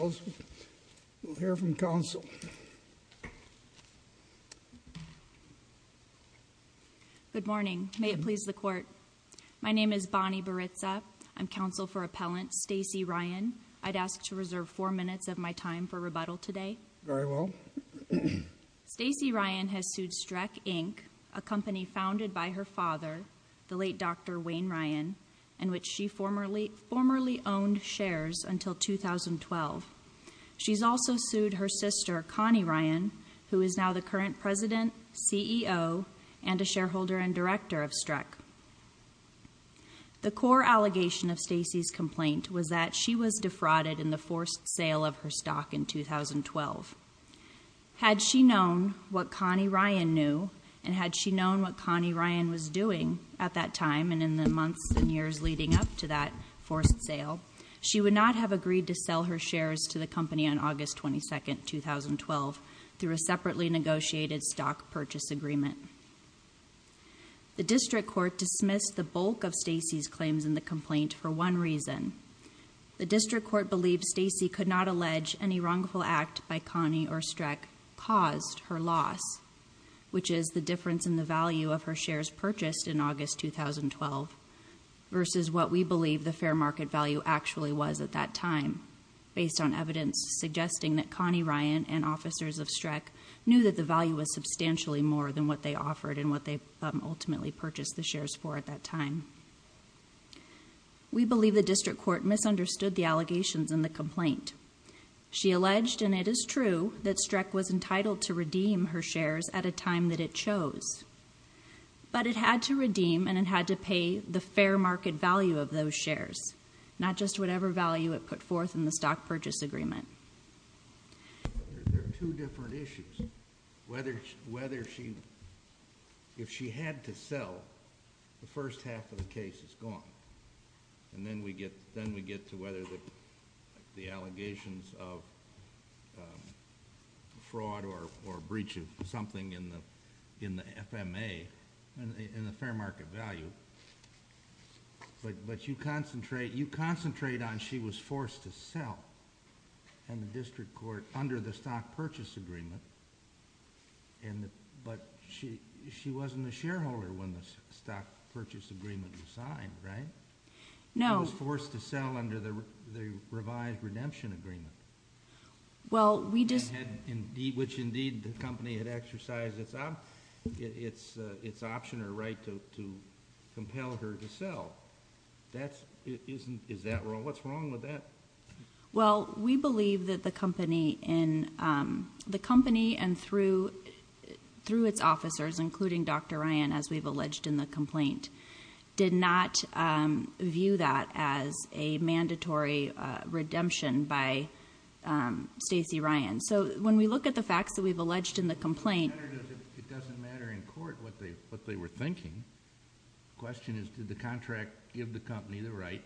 We'll hear from counsel Good morning, may it please the court. My name is Bonnie Baritza. I'm counsel for appellant Stacy Ryan I'd asked to reserve four minutes of my time for rebuttal today. Very well Stacy Ryan has sued streck Inc a company founded by her father the late. Dr Wayne Ryan in which she formerly formerly owned shares until 2012 She's also sued her sister Connie Ryan who is now the current president CEO and a shareholder and director of streck The core allegation of Stacy's complaint was that she was defrauded in the forced sale of her stock in 2012 Had she known what Connie Ryan knew and had she known what Connie Ryan was doing at that time? And in the months and years leading up to that forced sale She would not have agreed to sell her shares to the company on August 22nd 2012 through a separately negotiated stock purchase agreement The district court dismissed the bulk of Stacy's claims in the complaint for one reason The district court believed Stacy could not allege any wrongful act by Connie or streck caused her loss Which is the difference in the value of her shares purchased in August 2012 Versus what we believe the fair market value actually was at that time Based on evidence suggesting that Connie Ryan and officers of streck knew that the value was Substantially more than what they offered and what they ultimately purchased the shares for at that time We believe the district court misunderstood the allegations in the complaint She alleged and it is true that streck was entitled to redeem her shares at a time that it chose But it had to redeem and it had to pay the fair market value of those shares Not just whatever value it put forth in the stock purchase agreement If she had to sell the first half of the case is gone And then we get then we get to whether that the allegations of Fraud or or breach of something in the in the FMA and in the fair market value But but you concentrate you concentrate on she was forced to sell and the district court under the stock purchase agreement and But she she wasn't a shareholder when the stock purchase agreement was signed, right? No forced to sell under the the revised redemption agreement Well, we just had indeed which indeed the company had exercised. It's up. It's it's option or right to compel her to sell That's isn't is that wrong? What's wrong with that? well, we believe that the company in the company and through Through its officers including dr. Ryan as we've alleged in the complaint did not view that as a mandatory redemption by Stacy Ryan, so when we look at the facts that we've alleged in the complaint Question is did the contract give the company the right?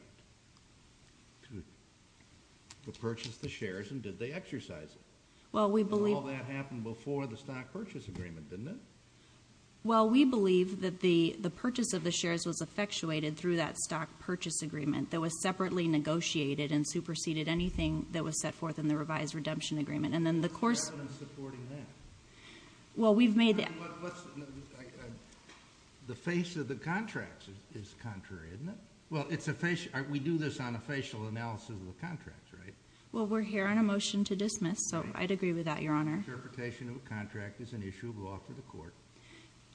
To purchase the shares and did they exercise well, we believe that happened before the stock purchase agreement, didn't it? Well, we believe that the the purchase of the shares was effectuated through that stock purchase agreement That was separately negotiated and superseded anything that was set forth in the revised redemption agreement. And then the course Well, we've made The face of the contracts is contrary, isn't it? Well, it's a face. We do this on a facial analysis of the contracts, right? Well, we're here on a motion to dismiss. So I'd agree with that your honor Interpretation of a contract is an issue of law for the court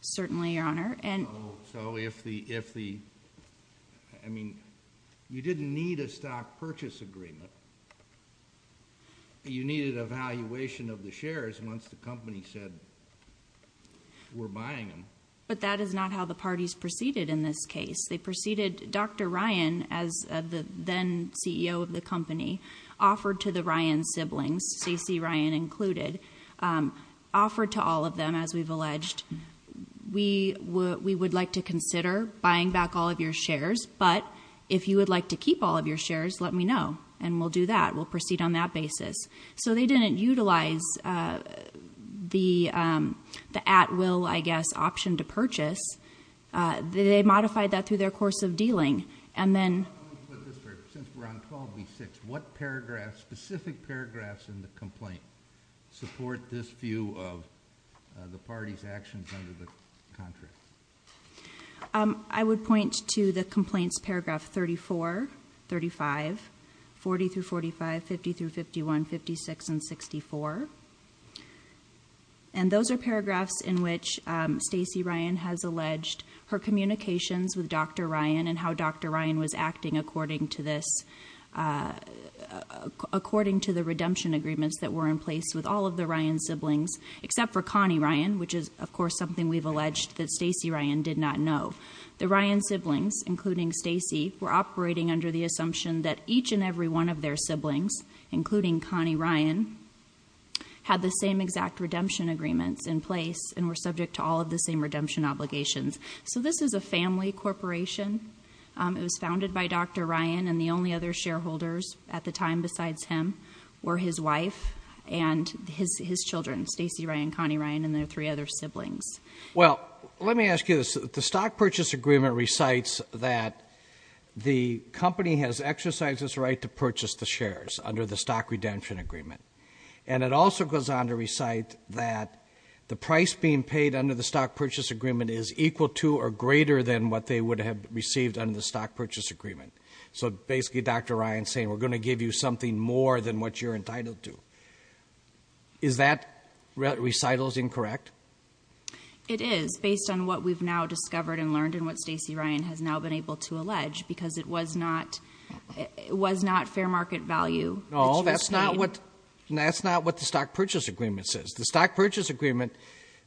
certainly, your honor and so if the if the I Mean you didn't need a stock purchase agreement You needed a valuation of the shares once the company said We're buying them, but that is not how the parties proceeded in this case. They preceded. Dr Ryan as the then CEO of the company offered to the Ryan siblings CC Ryan included Offered to all of them as we've alleged We would we would like to consider buying back all of your shares But if you would like to keep all of your shares, let me know and we'll do that. We'll proceed on that basis So they didn't utilize the The at will I guess option to purchase they modified that through their course of dealing and then We're on 12b6 what paragraph specific paragraphs in the complaint support this view of the party's actions under the contract I would point to the complaints paragraph 34 35 40 through 45 50 through 51 56 and 64 and Those are paragraphs in which Stacy Ryan has alleged her communications with dr Ryan and how dr. Ryan was acting according to this According to the redemption agreements that were in place with all of the Ryan siblings except for Connie Ryan Which is of course something we've alleged that Stacy Ryan did not know the Ryan siblings including Stacy We're operating under the assumption that each and every one of their siblings including Connie Ryan Had the same exact redemption agreements in place and were subject to all of the same redemption obligations So this is a family corporation It was founded by dr Ryan and the only other shareholders at the time besides him were his wife and His his children Stacy Ryan Connie Ryan and their three other siblings well, let me ask you this the stock purchase agreement recites that The company has exercised its right to purchase the shares under the stock redemption agreement And it also goes on to recite that The price being paid under the stock purchase agreement is equal to or greater than what they would have received under the stock purchase agreement So basically, dr. Ryan saying we're going to give you something more than what you're entitled to Is that? recitals incorrect It is based on what we've now discovered and learned and what Stacy Ryan has now been able to allege because it was not It was not fair market value. No, that's not what That's not what the stock purchase agreement says the stock purchase agreement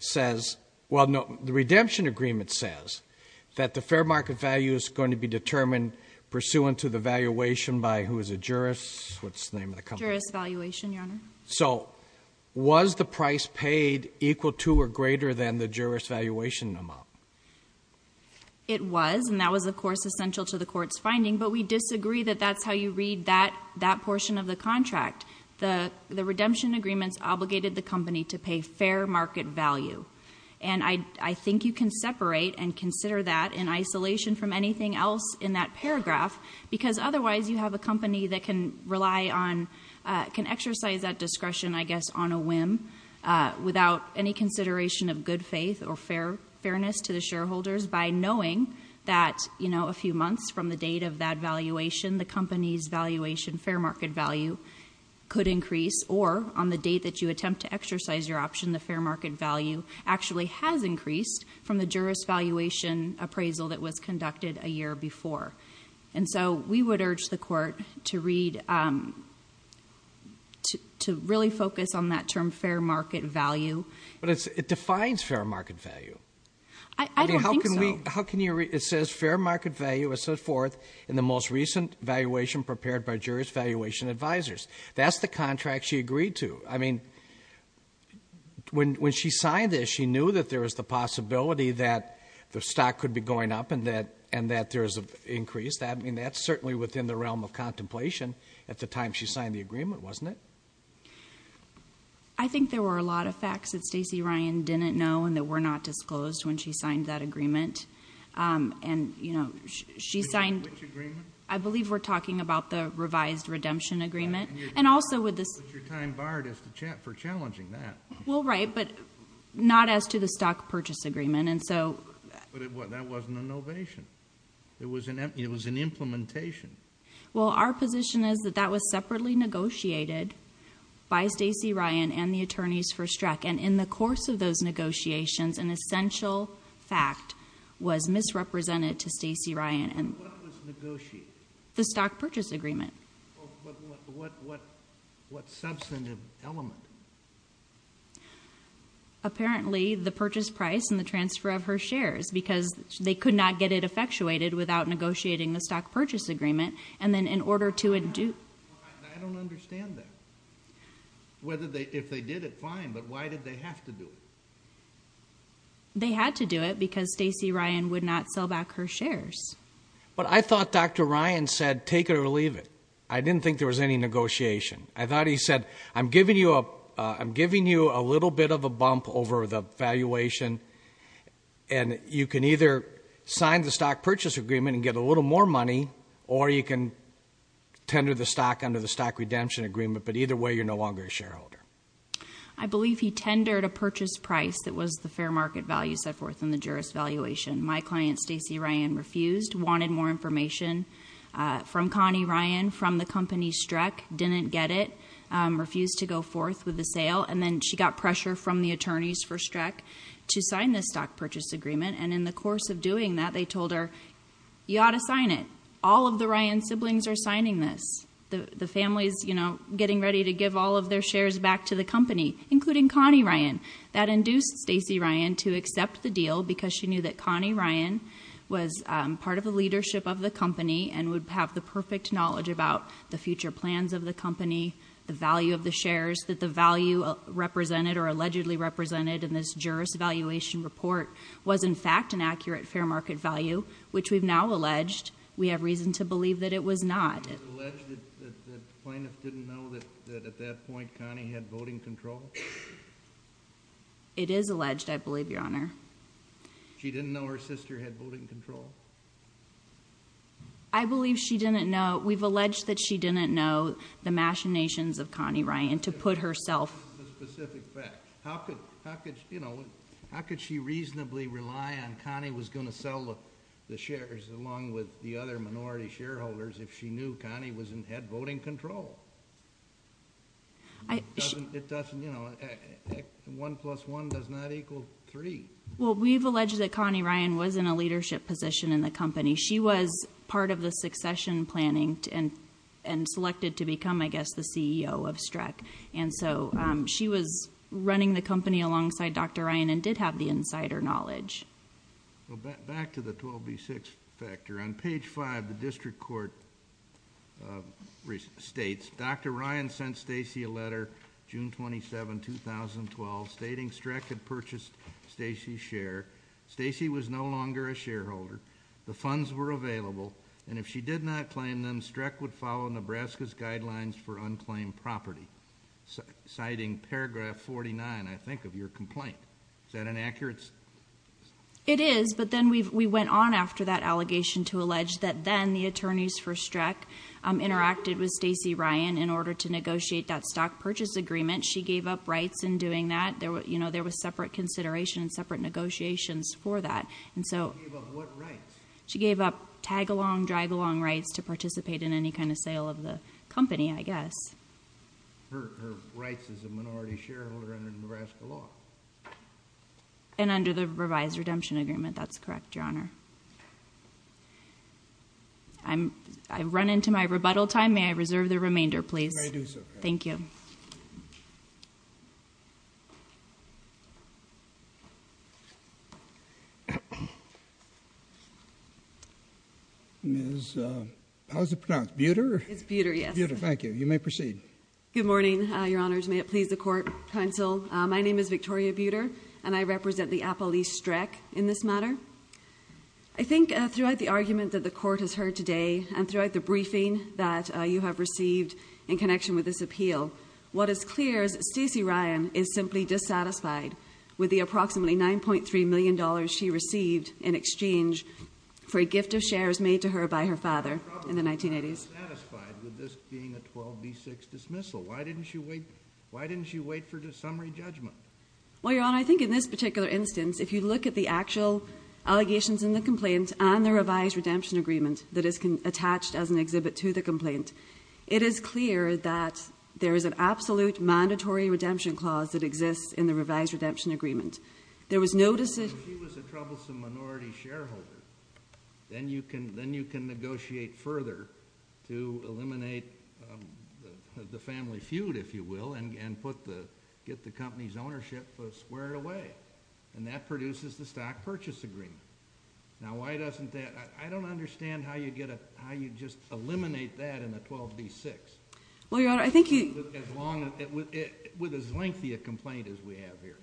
Says well, no the redemption agreement says that the fair market value is going to be determined Pursuant to the valuation by who is a jurist? What's the name of the company's valuation your honor? So Was the price paid equal to or greater than the jurist valuation amount? It was and that was of course essential to the court's finding but we disagree that that's how you read that that portion of the contract the the redemption agreements obligated the company to pay fair market value and I think you can separate and consider that in isolation from anything else in that paragraph Because otherwise you have a company that can rely on Can exercise that discretion I guess on a whim Without any consideration of good faith or fair fairness to the shareholders by knowing that you know A few months from the date of that valuation the company's valuation fair market value Could increase or on the date that you attempt to exercise your option the fair market value Actually has increased from the jurist valuation Appraisal that was conducted a year before and so we would urge the court to read To really focus on that term fair market value, but it's it defines fair market value How can we how can you read it says fair market value was set forth in the most recent valuation prepared by jurist valuation advisors That's the contract she agreed to I mean When when she signed this she knew that there was the possibility that The stock could be going up and that and that there is a increase that I mean that's certainly within the realm of contemplation At the time she signed the agreement wasn't it I? Were not disclosed when she signed that agreement And you know she signed I believe we're talking about the revised redemption agreement and also with this Well right, but not as to the stock purchase agreement and so It was an it was an implementation Well our position is that that was separately negotiated By Stacy Ryan and the attorneys for struck and in the course of those negotiations an essential fact was misrepresented to Stacy Ryan and the stock purchase agreement Apparently the purchase price and the transfer of her shares because they could not get it effectuated without Negotiating the stock purchase agreement and then in order to do Whether they if they did it fine, but why did they have to do it? They had to do it because Stacy Ryan would not sell back her shares But I thought dr. Ryan said take it or leave it. I didn't think there was any negotiation I thought he said I'm giving you up. I'm giving you a little bit of a bump over the valuation and you can either sign the stock purchase agreement and get a little more money, or you can Tender the stock under the stock redemption agreement, but either way you're no longer a shareholder. I Believe he tendered a purchase price. That was the fair market value set forth in the jurist valuation my client Stacy Ryan refused wanted more information From Connie Ryan from the company struck didn't get it Refused to go forth with the sale and then she got pressure from the attorneys for struck To sign this stock purchase agreement and in the course of doing that they told her You ought to sign it all of the Ryan siblings are signing this the the families You know getting ready to give all of their shares back to the company including Connie Ryan that induced Stacy Ryan to accept the deal because she knew that Connie Ryan Was part of the leadership of the company and would have the perfect knowledge about the future plans of the company the value of the shares that the value Represented or allegedly represented in this jurist valuation report was in fact an accurate fair market value Which we've now alleged we have reason to believe that it was not It is alleged I believe your honor she didn't know her sister had voting control I Believe she didn't know we've alleged that she didn't know the machinations of Connie Ryan to put herself How could how could you know? How could she reasonably rely on Connie was going to sell the shares along with the other minority shareholders? If she knew Connie was in head voting control One plus one does not equal three. Well, we've alleged that Connie Ryan was in a leadership position in the company she was part of the succession planning and and Running the company alongside dr. Ryan and did have the insider knowledge Back to the 12b6 factor on page 5 the district court States dr. Ryan sent Stacy a letter June 27 2012 stating streck had purchased Stacy's share Stacy was no longer a shareholder The funds were available and if she did not claim them streck would follow Nebraska's guidelines for unclaimed property Citing paragraph 49, I think of your complaint is that an accurate? It is but then we went on after that allegation to allege that then the attorneys for streck Interacted with Stacy Ryan in order to negotiate that stock purchase agreement. She gave up rights in doing that there You know, there was separate consideration and separate negotiations for that. And so She gave up tag-along drag-along rights to participate in any kind of sale of the company, I guess Her rights as a minority shareholder under the Nebraska law And under the revised redemption agreement, that's correct. Your honor I'm I've run into my rebuttal time. May I reserve the remainder, please? Thank you You Is How's it pronounced Buter? It's Buter. Yes. Thank you. You may proceed. Good morning. Your honors May it please the court counsel? My name is Victoria Buter and I represent the Apple East wreck in this matter. I Think throughout the argument that the court has heard today and throughout the briefing that you have received in connection with this appeal What is clear is Stacy Ryan is simply dissatisfied with the approximately 9.3 million dollars she received in exchange For a gift of shares made to her by her father in the 1980s Why didn't she wait why didn't she wait for the summary judgment? Well, your honor, I think in this particular instance if you look at the actual Allegations in the complaints and the revised redemption agreement that is attached as an exhibit to the complaint It is clear that there is an absolute mandatory redemption clause that exists in the revised redemption agreement There was no decision Then you can then you can negotiate further to eliminate The family feud if you will and put the get the company's ownership Squared away and that produces the stock purchase agreement Now why doesn't that I don't understand how you get it how you just eliminate that in a 12b6 Well, your honor, I think you With as lengthy a complaint as we have here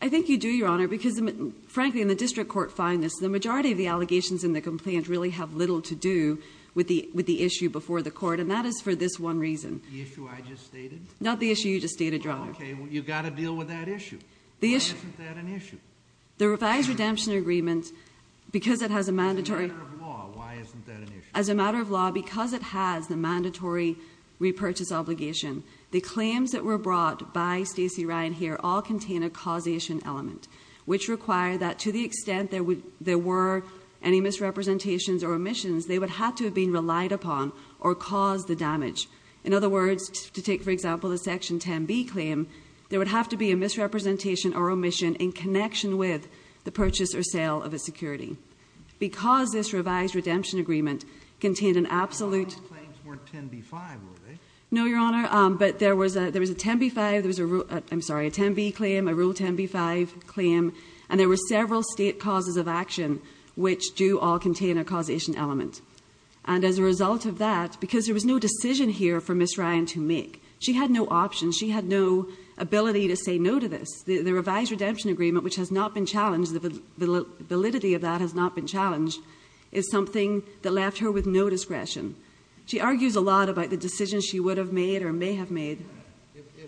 I think you do your honor because Frankly in the district court find this the majority of the allegations in the complaint really have little to do With the with the issue before the court and that is for this one reason Not the issue. You just stated wrong. Okay, you got to deal with that issue the issue The revised redemption agreement Because it has a mandatory As a matter of law because it has the mandatory Repurchase obligation the claims that were brought by Stacey Ryan here all contain a causation element Which require that to the extent there would there were any misrepresentations or omissions? They would have to have been relied upon or caused the damage in other words to take for example the section 10b claim There would have to be a misrepresentation or omission in connection with the purchase or sale of a security Because this revised redemption agreement contained an absolute No, your honor, but there was a there was a 10b5 There was a I'm sorry a 10b claim a rule 10b5 claim and there were several state causes of action Which do all contain a causation element and as a result of that because there was no decision here for miss Ryan to make She had no option. She had no Ability to say no to this the the revised redemption agreement, which has not been challenged The validity of that has not been challenged is something that left her with no discretion She argues a lot about the decisions. She would have made or may have made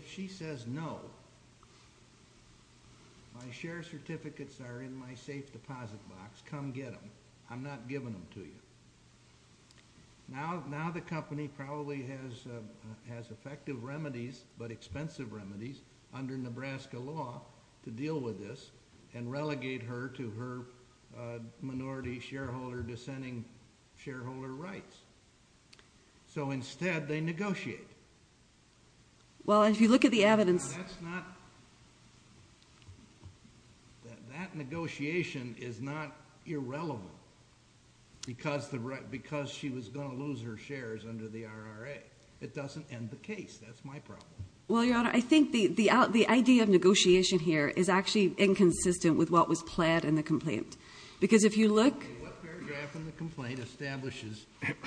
She says no My share certificates are in my safe deposit box come get them. I'm not giving them to you Now now the company probably has has effective remedies but expensive remedies under Nebraska law to deal with this and relegate her to her minority shareholder dissenting shareholder rights So instead they negotiate Well as you look at the evidence That negotiation is not irrelevant Because the right because she was gonna lose her shares under the RRA it doesn't end the case that's my problem well, your honor, I think the the out the idea of negotiation here is actually inconsistent with what was pled in the complaint because if You look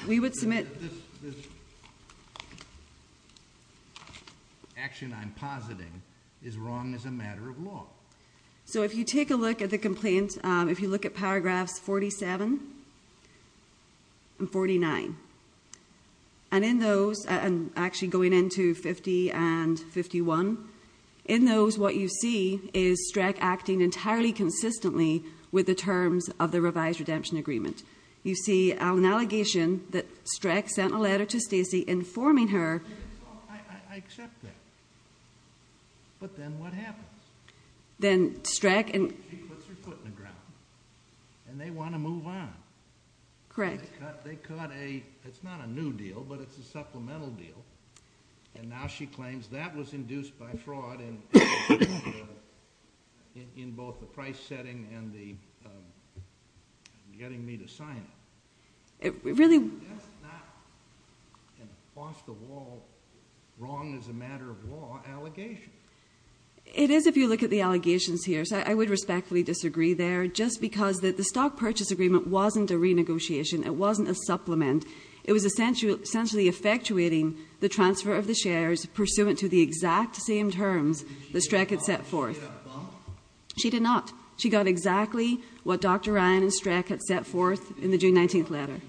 We would submit Action I'm positing is wrong as a matter of law And 49 and in those and actually going into 50 and 51 in those what you see is streck acting entirely consistently with the terms of the revised redemption agreement You see an allegation that streck sent a letter to Stacy informing her Then streck and And they want to move on Correct. They caught a it's not a new deal, but it's a supplemental deal And now she claims that was induced by fraud in In both the price setting and the Getting me to sign it it really Wrong as a matter of law allegation It is if you look at the allegations here So I would respectfully disagree there just because that the stock purchase agreement wasn't a renegotiation. It wasn't a supplement It was essentially essentially effectuating the transfer of the shares pursuant to the exact same terms the streck had set forth She did not she got exactly what dr. Ryan and streck had set forth in the June 19th letter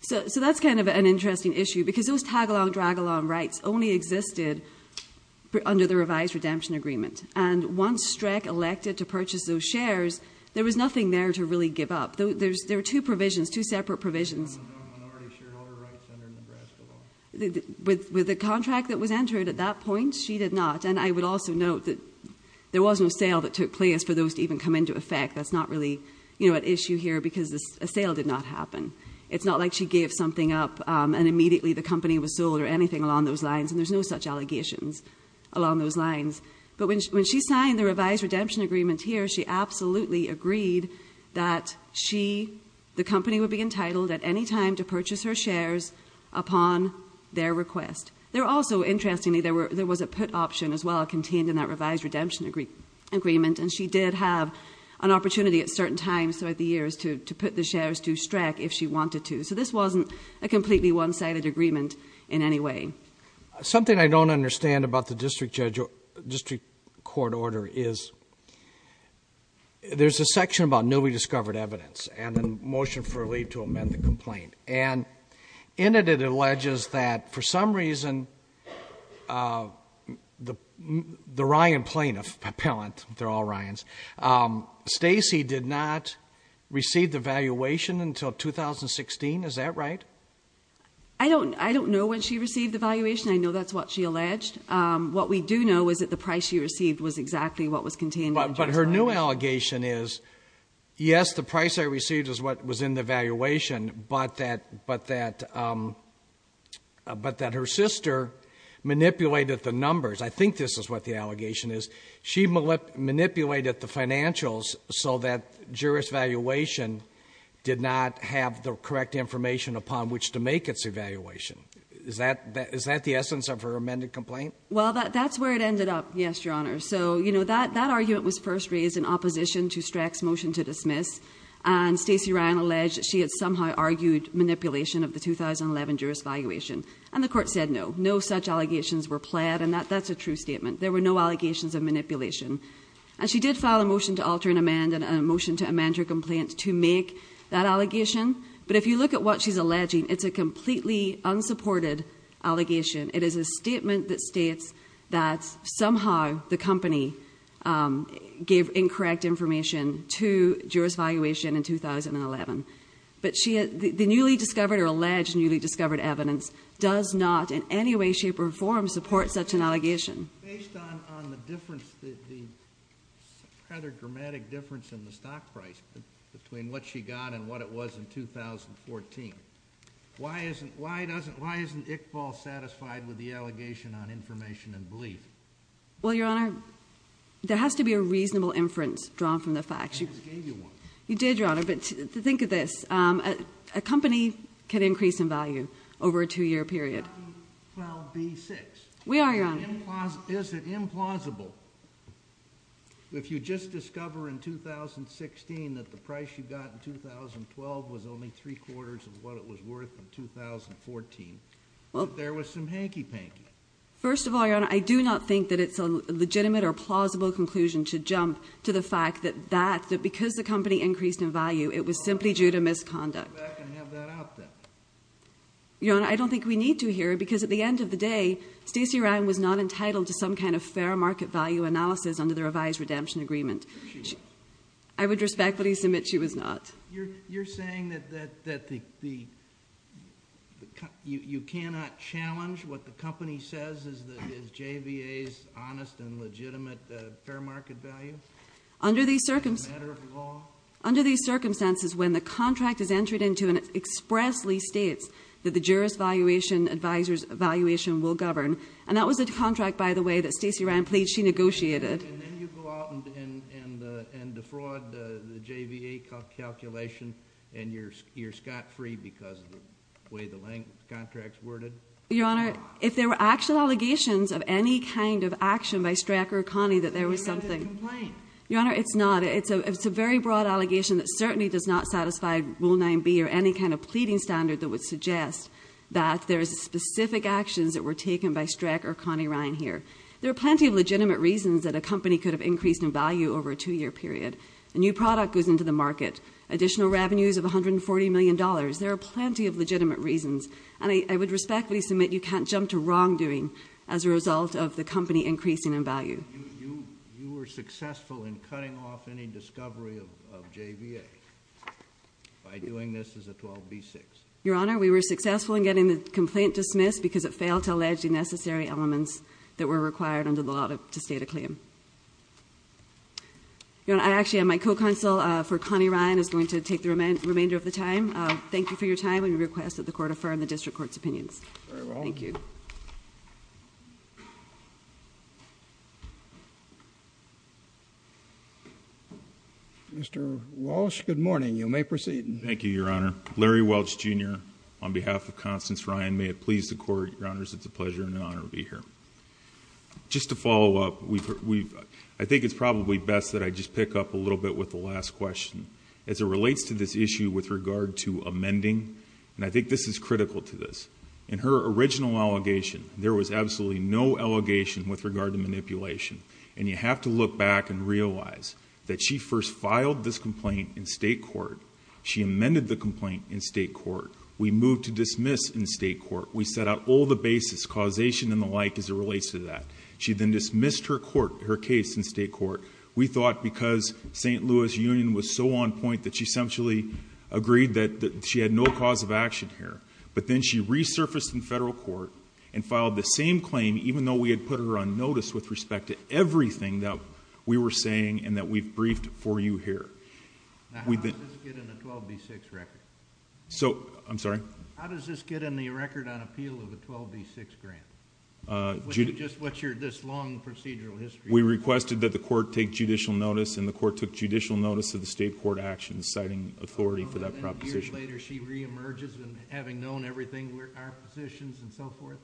So That's kind of an interesting issue because those tag-along drag-along rights only existed Under the revised redemption agreement and once streck elected to purchase those shares There was nothing there to really give up though. There's there are two provisions two separate provisions With with the contract that was entered at that point She did not and I would also note that there was no sale that took place for those to even come into effect That's not really, you know an issue here because the sale did not happen It's not like she gave something up and immediately the company was sold or anything along those lines and there's no such allegations Along those lines, but when she signed the revised redemption agreement here She absolutely agreed that she the company would be entitled at any time to purchase her shares Upon their request there also interestingly there were there was a put option as well contained in that revised redemption agree Agreement and she did have an opportunity at certain times throughout the years to put the shares to streck if she wanted to so this Wasn't a completely one-sided agreement in any way something I don't understand about the district judge or district court order is There's a section about no we discovered evidence and then motion for a leave to amend the complaint and In it it alleges that for some reason The the Ryan plaintiff appellant, they're all Ryan's Stacy did not receive the valuation until 2016. Is that right? I Don't I don't know when she received the valuation. I know that's what she alleged What we do know is that the price she received was exactly what was contained, but her new allegation is Yes, the price I received is what was in the valuation, but that but that But that her sister Manipulated the numbers. I think this is what the allegation is. She manipulated the financials so that jurors valuation Did not have the correct information upon which to make its evaluation. Is that that is that the essence of her amended complaint? Well that that's where it ended up. Yes, your honor So, you know that that argument was first raised in opposition to strex motion to dismiss and Stacy Ryan alleged She had somehow argued manipulation of the 2011 jurors valuation and the court said no no such allegations were pled and that that's a true statement There were no allegations of manipulation And she did file a motion to alter and amend and a motion to amend her complaint to make that allegation But if you look at what she's alleging, it's a completely unsupported Allegation it is a statement that states that somehow the company gave incorrect information to Jurors valuation in 2011 But she had the newly discovered or alleged newly discovered evidence does not in any way shape or form support such an allegation Rather dramatic difference in the stock price between what she got and what it was in 2014 why isn't why doesn't why isn't it Paul satisfied with the allegation on information and belief? Well, your honor There has to be a reasonable inference drawn from the facts you You did your honor, but think of this a company can increase in value over a two-year period We are your honor is it implausible If you just discover in 2016 that the price you got in 2012 was only three quarters of what it was worth in Conclusion to jump to the fact that that that because the company increased in value it was simply due to misconduct Your honor I don't think we need to hear because at the end of the day Stacy Ryan was not entitled to some kind of fair market value analysis under the revised redemption agreement. I Would respectfully submit she was not You're saying that that that the You you cannot challenge what the company says is that is JVA's honest and legitimate fair market value under these circumstances Under these circumstances when the contract is entered into and it expressly states that the jurist valuation Advisors valuation will govern and that was a contract by the way that Stacy ran pleads she negotiated And then you go out and and and defraud the JVA Calculation and you're you're scot-free because of the way the length contracts worded your honor If there were actual allegations of any kind of action by Strecker Connie that there was something Your honor it's not it's a it's a very broad allegation that certainly does not satisfy Rule 9b or any kind of pleading standard that would suggest that there is a specific Actions that were taken by Streck or Connie Ryan here There are plenty of legitimate reasons that a company could have increased in value over a two-year period a new product goes into the market Additional revenues of 140 million dollars there are plenty of legitimate reasons And I would respectfully submit you can't jump to wrongdoing as a result of the company increasing in value You were successful in cutting off any discovery of JVA By doing this as a 12b 6 your honor We were successful in getting the complaint dismissed because it failed to allege the necessary elements that were required under the law to state a claim You know I actually am my co-counsel for Connie Ryan is going to take the remainder of the time Thank you for your time when you request that the court affirm the district courts opinions. Thank you Mr. Walsh good morning you may proceed. Thank you your honor Larry Welch jr. On behalf of Constance Ryan may it please the court your honors It's a pleasure and an honor to be here Just to follow up We've we've I think it's probably best that I just pick up a little bit with the last question as it relates to this issue With regard to amending and I think this is critical to this in her original allegation There was absolutely no Allegation with regard to manipulation and you have to look back and realize that she first filed this complaint in state court She amended the complaint in state court. We moved to dismiss in state court We set out all the basis causation and the like as it relates to that She then dismissed her court her case in state court We thought because st. Louis Union was so on point that she essentially agreed that she had no cause of action here But then she resurfaced in federal court and filed the same claim even though we had put her on notice with respect to Everything that we were saying and that we've briefed for you here So, I'm sorry We requested that the court take judicial notice and the court took judicial notice of the state court actions citing authority for that proposition And so forth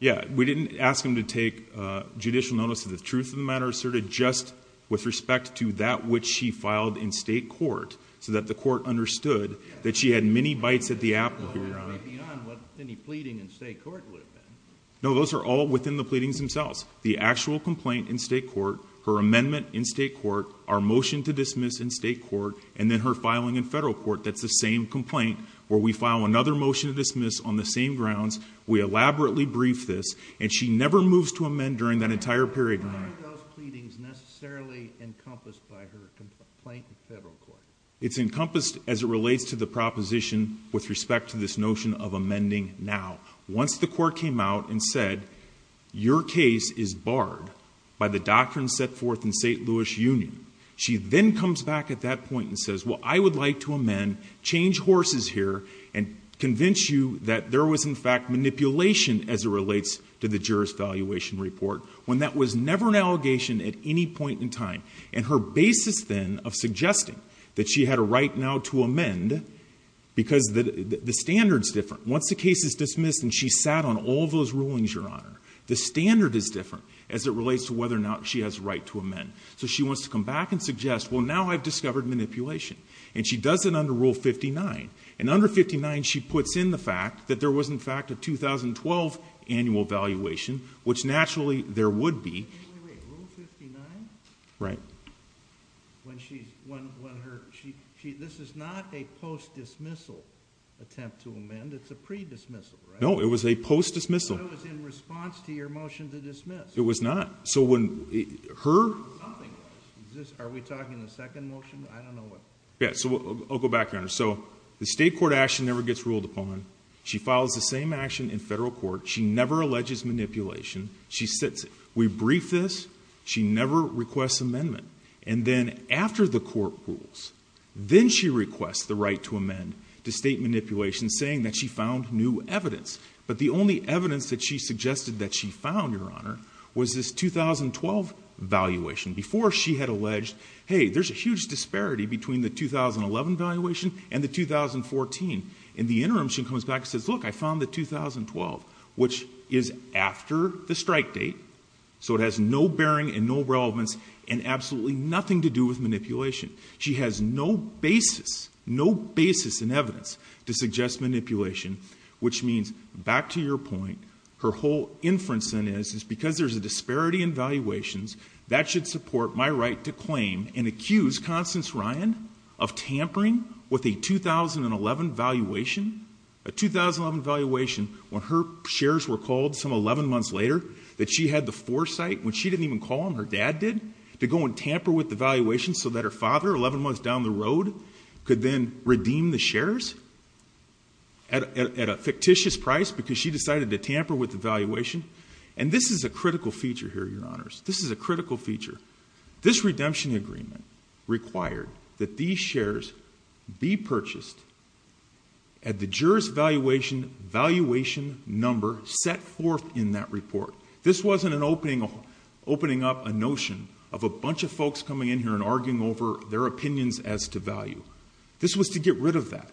Yeah, we didn't ask him to take Judicial notice of the truth of the matter asserted just with respect to that which she filed in state court So that the court understood that she had many bites at the app No, those are all within the pleadings themselves the actual complaint in state court her amendment in state court our motion to dismiss in state Court and then her filing in federal court That's the same complaint where we file another motion to dismiss on the same grounds We elaborately briefed this and she never moves to amend during that entire period It's encompassed as it relates to the proposition with respect to this notion of amending now once the court came out and said Your case is barred by the doctrine set forth in st Union she then comes back at that point and says well, I would like to amend change horses here and Convince you that there was in fact Manipulation as it relates to the jurors valuation report when that was never an allegation at any point in time and her basis Then of suggesting that she had a right now to amend Because the the standards different once the case is dismissed and she sat on all those rulings your honor The standard is different as it relates to whether or not she has right to amend So she wants to come back and suggest well now I've discovered Manipulation and she does it under rule 59 and under 59 she puts in the fact that there was in fact a 2012 annual valuation which naturally there would be Right No, it was a post dismissal It was not so when Yeah, so I'll go back here so the state court action never gets ruled upon she follows the same action in federal court She never alleges manipulation. She sits we brief this She never requests amendment and then after the court rules Then she requests the right to amend to state manipulation saying that she found new evidence But the only evidence that she suggested that she found your honor was this 2012 Valuation before she had alleged. Hey, there's a huge disparity between the 2011 valuation and the 2014 in the interim she comes back says look I found the 2012 which is after the strike date So it has no bearing and no relevance and absolutely nothing to do with manipulation She has no basis no basis in evidence to suggest manipulation Which means back to your point her whole inference in is is because there's a disparity in valuations that should support my right to claim and accuse Constance Ryan of tampering with a 2011 valuation a 2011 valuation when her shares were called some 11 months later that she had the foresight when she didn't even call him her dad did To go and tamper with the valuation so that her father 11 months down the road could then redeem the shares At a fictitious price because she decided to tamper with the valuation and this is a critical feature here your honors This is a critical feature this redemption agreement Required that these shares be purchased at the jurors valuation Valuation number set forth in that report. This wasn't an opening Opening up a notion of a bunch of folks coming in here and arguing over their opinions as to value This was to get rid of that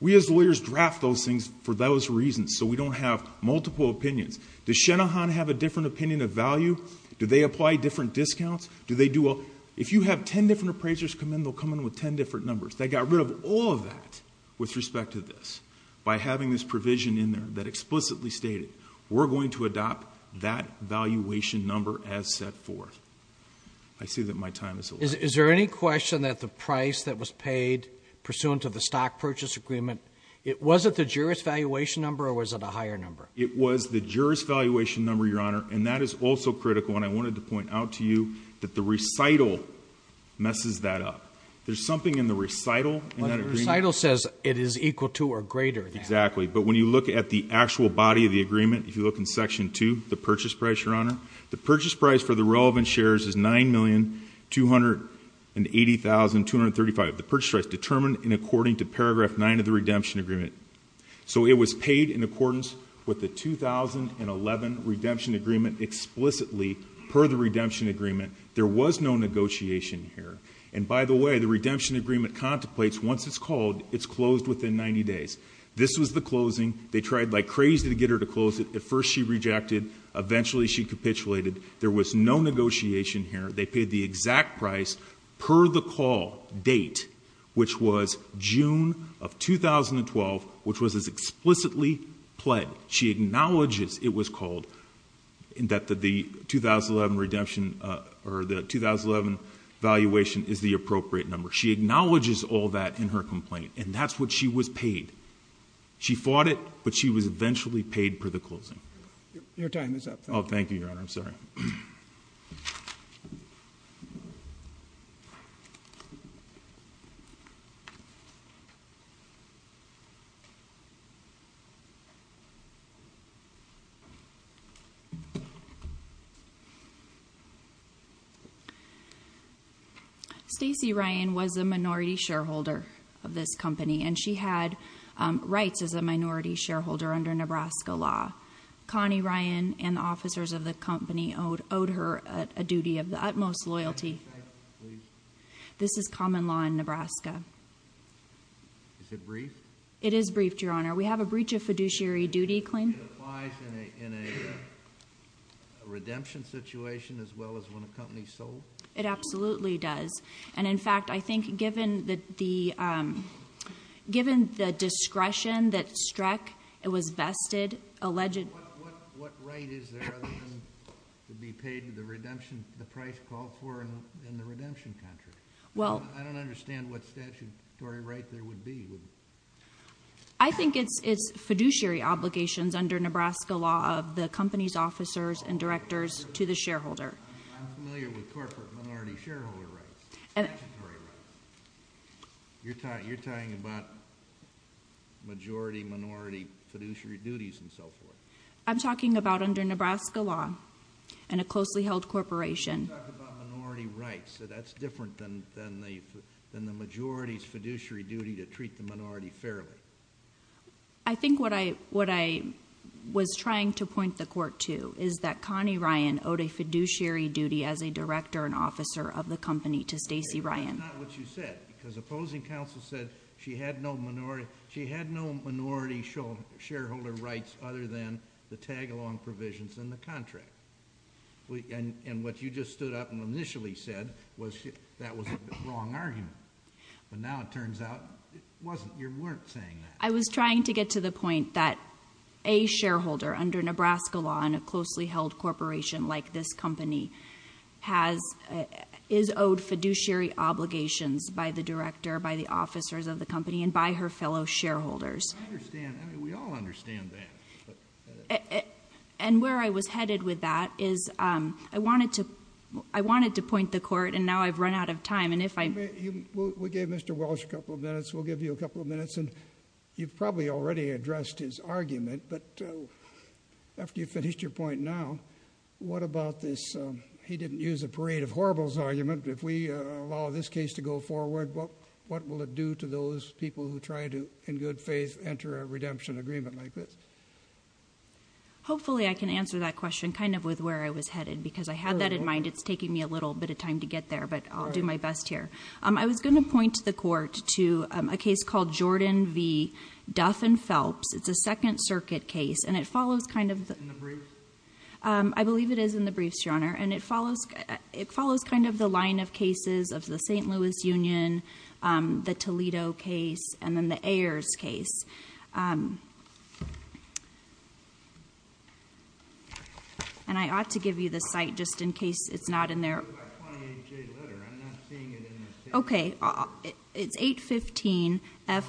we as lawyers draft those things for those reasons So we don't have multiple opinions the Shenahan have a different opinion of value. Do they apply different discounts? Do they do well if you have ten different appraisers come in they'll come in with ten different numbers They got rid of all of that with respect to this by having this provision in there that explicitly stated We're going to adopt that valuation number as set forth I Pursuant of the stock purchase agreement. It wasn't the jurors valuation number or was it a higher number? It was the jurors valuation number your honor, and that is also critical and I wanted to point out to you that the recital Messes that up. There's something in the recital Recital says it is equal to or greater exactly But when you look at the actual body of the agreement if you look in section to the purchase price your honor The purchase price for the relevant shares is nine million two hundred and eighty thousand two hundred thirty five The purchase price determined in according to paragraph nine of the redemption agreement So it was paid in accordance with the two thousand and eleven redemption agreement Explicitly per the redemption agreement. There was no negotiation here And by the way, the redemption agreement contemplates once it's called it's closed within 90 days. This was the closing They tried like crazy to get her to close it at first. She rejected eventually she capitulated there was no negotiation here They paid the exact price per the call date, which was June of 2012 which was as explicitly pled she acknowledges it was called in that the the 2011 redemption or the 2011 valuation is the appropriate number She acknowledges all that in her complaint and that's what she was paid She fought it, but she was eventually paid for the closing your time is up. Oh, thank you your honor. I'm sorry You Stacey Ryan was a minority shareholder of this company and she had Rights as a minority shareholder under Nebraska law Connie Ryan and officers of the company owed owed her a duty of the utmost loyalty This is common law in Nebraska Is it brief it is briefed your honor. We have a breach of fiduciary duty claim Redemption situation as well as when a company sold it absolutely does and in fact, I think given that the Given the discretion that struck it was vested alleged Well, I don't understand what statutory right there would be I Think it's it's fiduciary obligations under Nebraska law of the company's officers and directors to the shareholder I'm familiar with corporate minority shareholder, right? You're taught you're talking about Majority minority fiduciary duties and so forth. I'm talking about under Nebraska law and a closely held corporation So that's different than than the than the majority's fiduciary duty to treat the minority fairly. I think what I what I Was trying to point the court to is that Connie Ryan owed a fiduciary duty as a director and officer of the company to Stacy Ryan She had no minority she had no minority show shareholder rights other than the tag-along provisions in the contract We and and what you just stood up and initially said was that was a wrong argument But now it turns out it wasn't you weren't saying that I was trying to get to the point that a shareholder under Nebraska law and a closely held corporation like this company has Is owed fiduciary obligations by the director by the officers of the company and by her fellow shareholders And where I was headed with that is I wanted to I wanted to point the court and now I've run out of time and If I we gave mr. Walsh a couple of minutes We'll give you a couple of minutes and you've probably already addressed his argument but After you finished your point now What about this? He didn't use a parade of horribles argument if we allow this case to go forward Well, what will it do to those people who try to in good faith enter a redemption agreement like this? Hopefully I can answer that question kind of with where I was headed because I had that in mind It's taking me a little bit of time to get there, but I'll do my best here I was going to point to the court to a case called Jordan V Duff and Phelps It's a Second Circuit case and it follows kind of the brief I believe it is in the briefs your honor and it follows it follows kind of the line of cases of the st Louis Union the Toledo case and then the Ayers case And I ought to give you the site just in case it's not in there Okay, it's 815f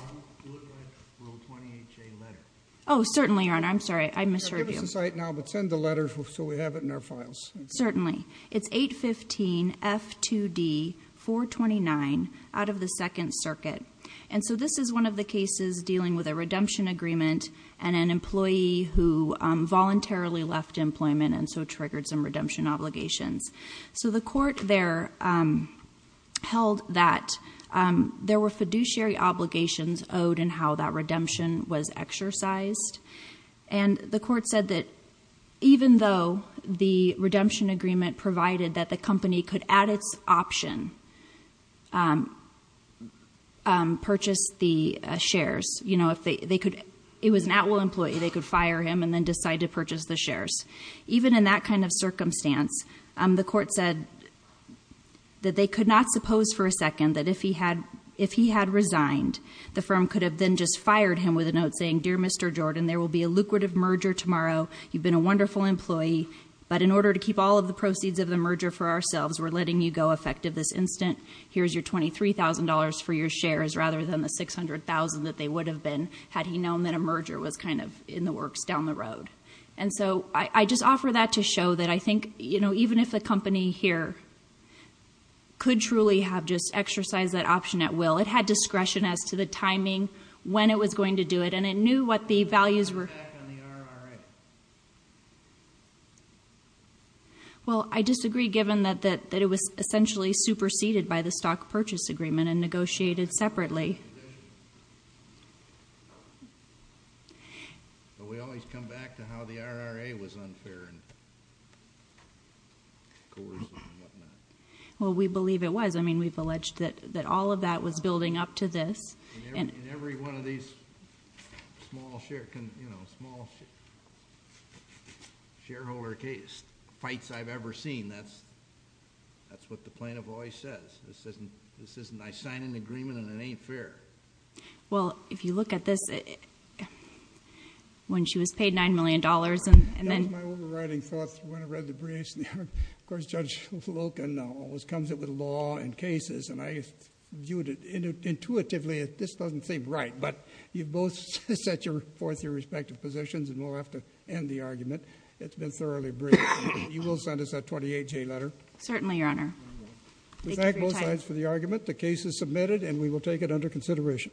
Certainly your honor. I'm sorry. I miss your site now, but send the letters. So we have it in our files. Certainly. It's 815f 2d 429 out of the Second Circuit and so this is one of the cases dealing with a redemption agreement and an employee who Voluntarily left employment and so triggered some redemption obligations. So the court there held that There were fiduciary obligations owed and how that redemption was exercised and the court said that Even though the redemption agreement provided that the company could add its option Purchase the shares, you know, if they could it was an at-will employee They could fire him and then decide to purchase the shares even in that kind of circumstance the court said That they could not suppose for a second that if he had if he had resigned The firm could have been just fired him with a note saying dear. Mr. Jordan. There will be a lucrative merger tomorrow You've been a wonderful employee, but in order to keep all of the proceeds of the merger for ourselves We're letting you go effective this instant here's your $23,000 for your shares rather than the 600,000 that they would have been had he known that a merger was kind of in the works down the road and So I just offer that to show that I think you know, even if the company here Could truly have just exercised that option at will it had discretion as to the timing when it was going to do it and it knew what the values were Well, I disagree given that that it was essentially superseded by the stock purchase agreement and negotiated separately Was unfair Well, we believe it was I mean we've alleged that that all of that was building up to this Shareholder case fights I've ever seen that's That's what the plaintiff always says. This isn't this isn't I sign an agreement and it ain't fair well, if you look at this it When she was paid nine million dollars and Of course judge Loken always comes it with law and cases and I viewed it Intuitively, this doesn't seem right but you both set your forth your respective positions and we'll have to end the argument It's been thoroughly brief. You will send us a 28 J letter. Certainly your honor Thank both sides for the argument. The case is submitted and we will take it under consideration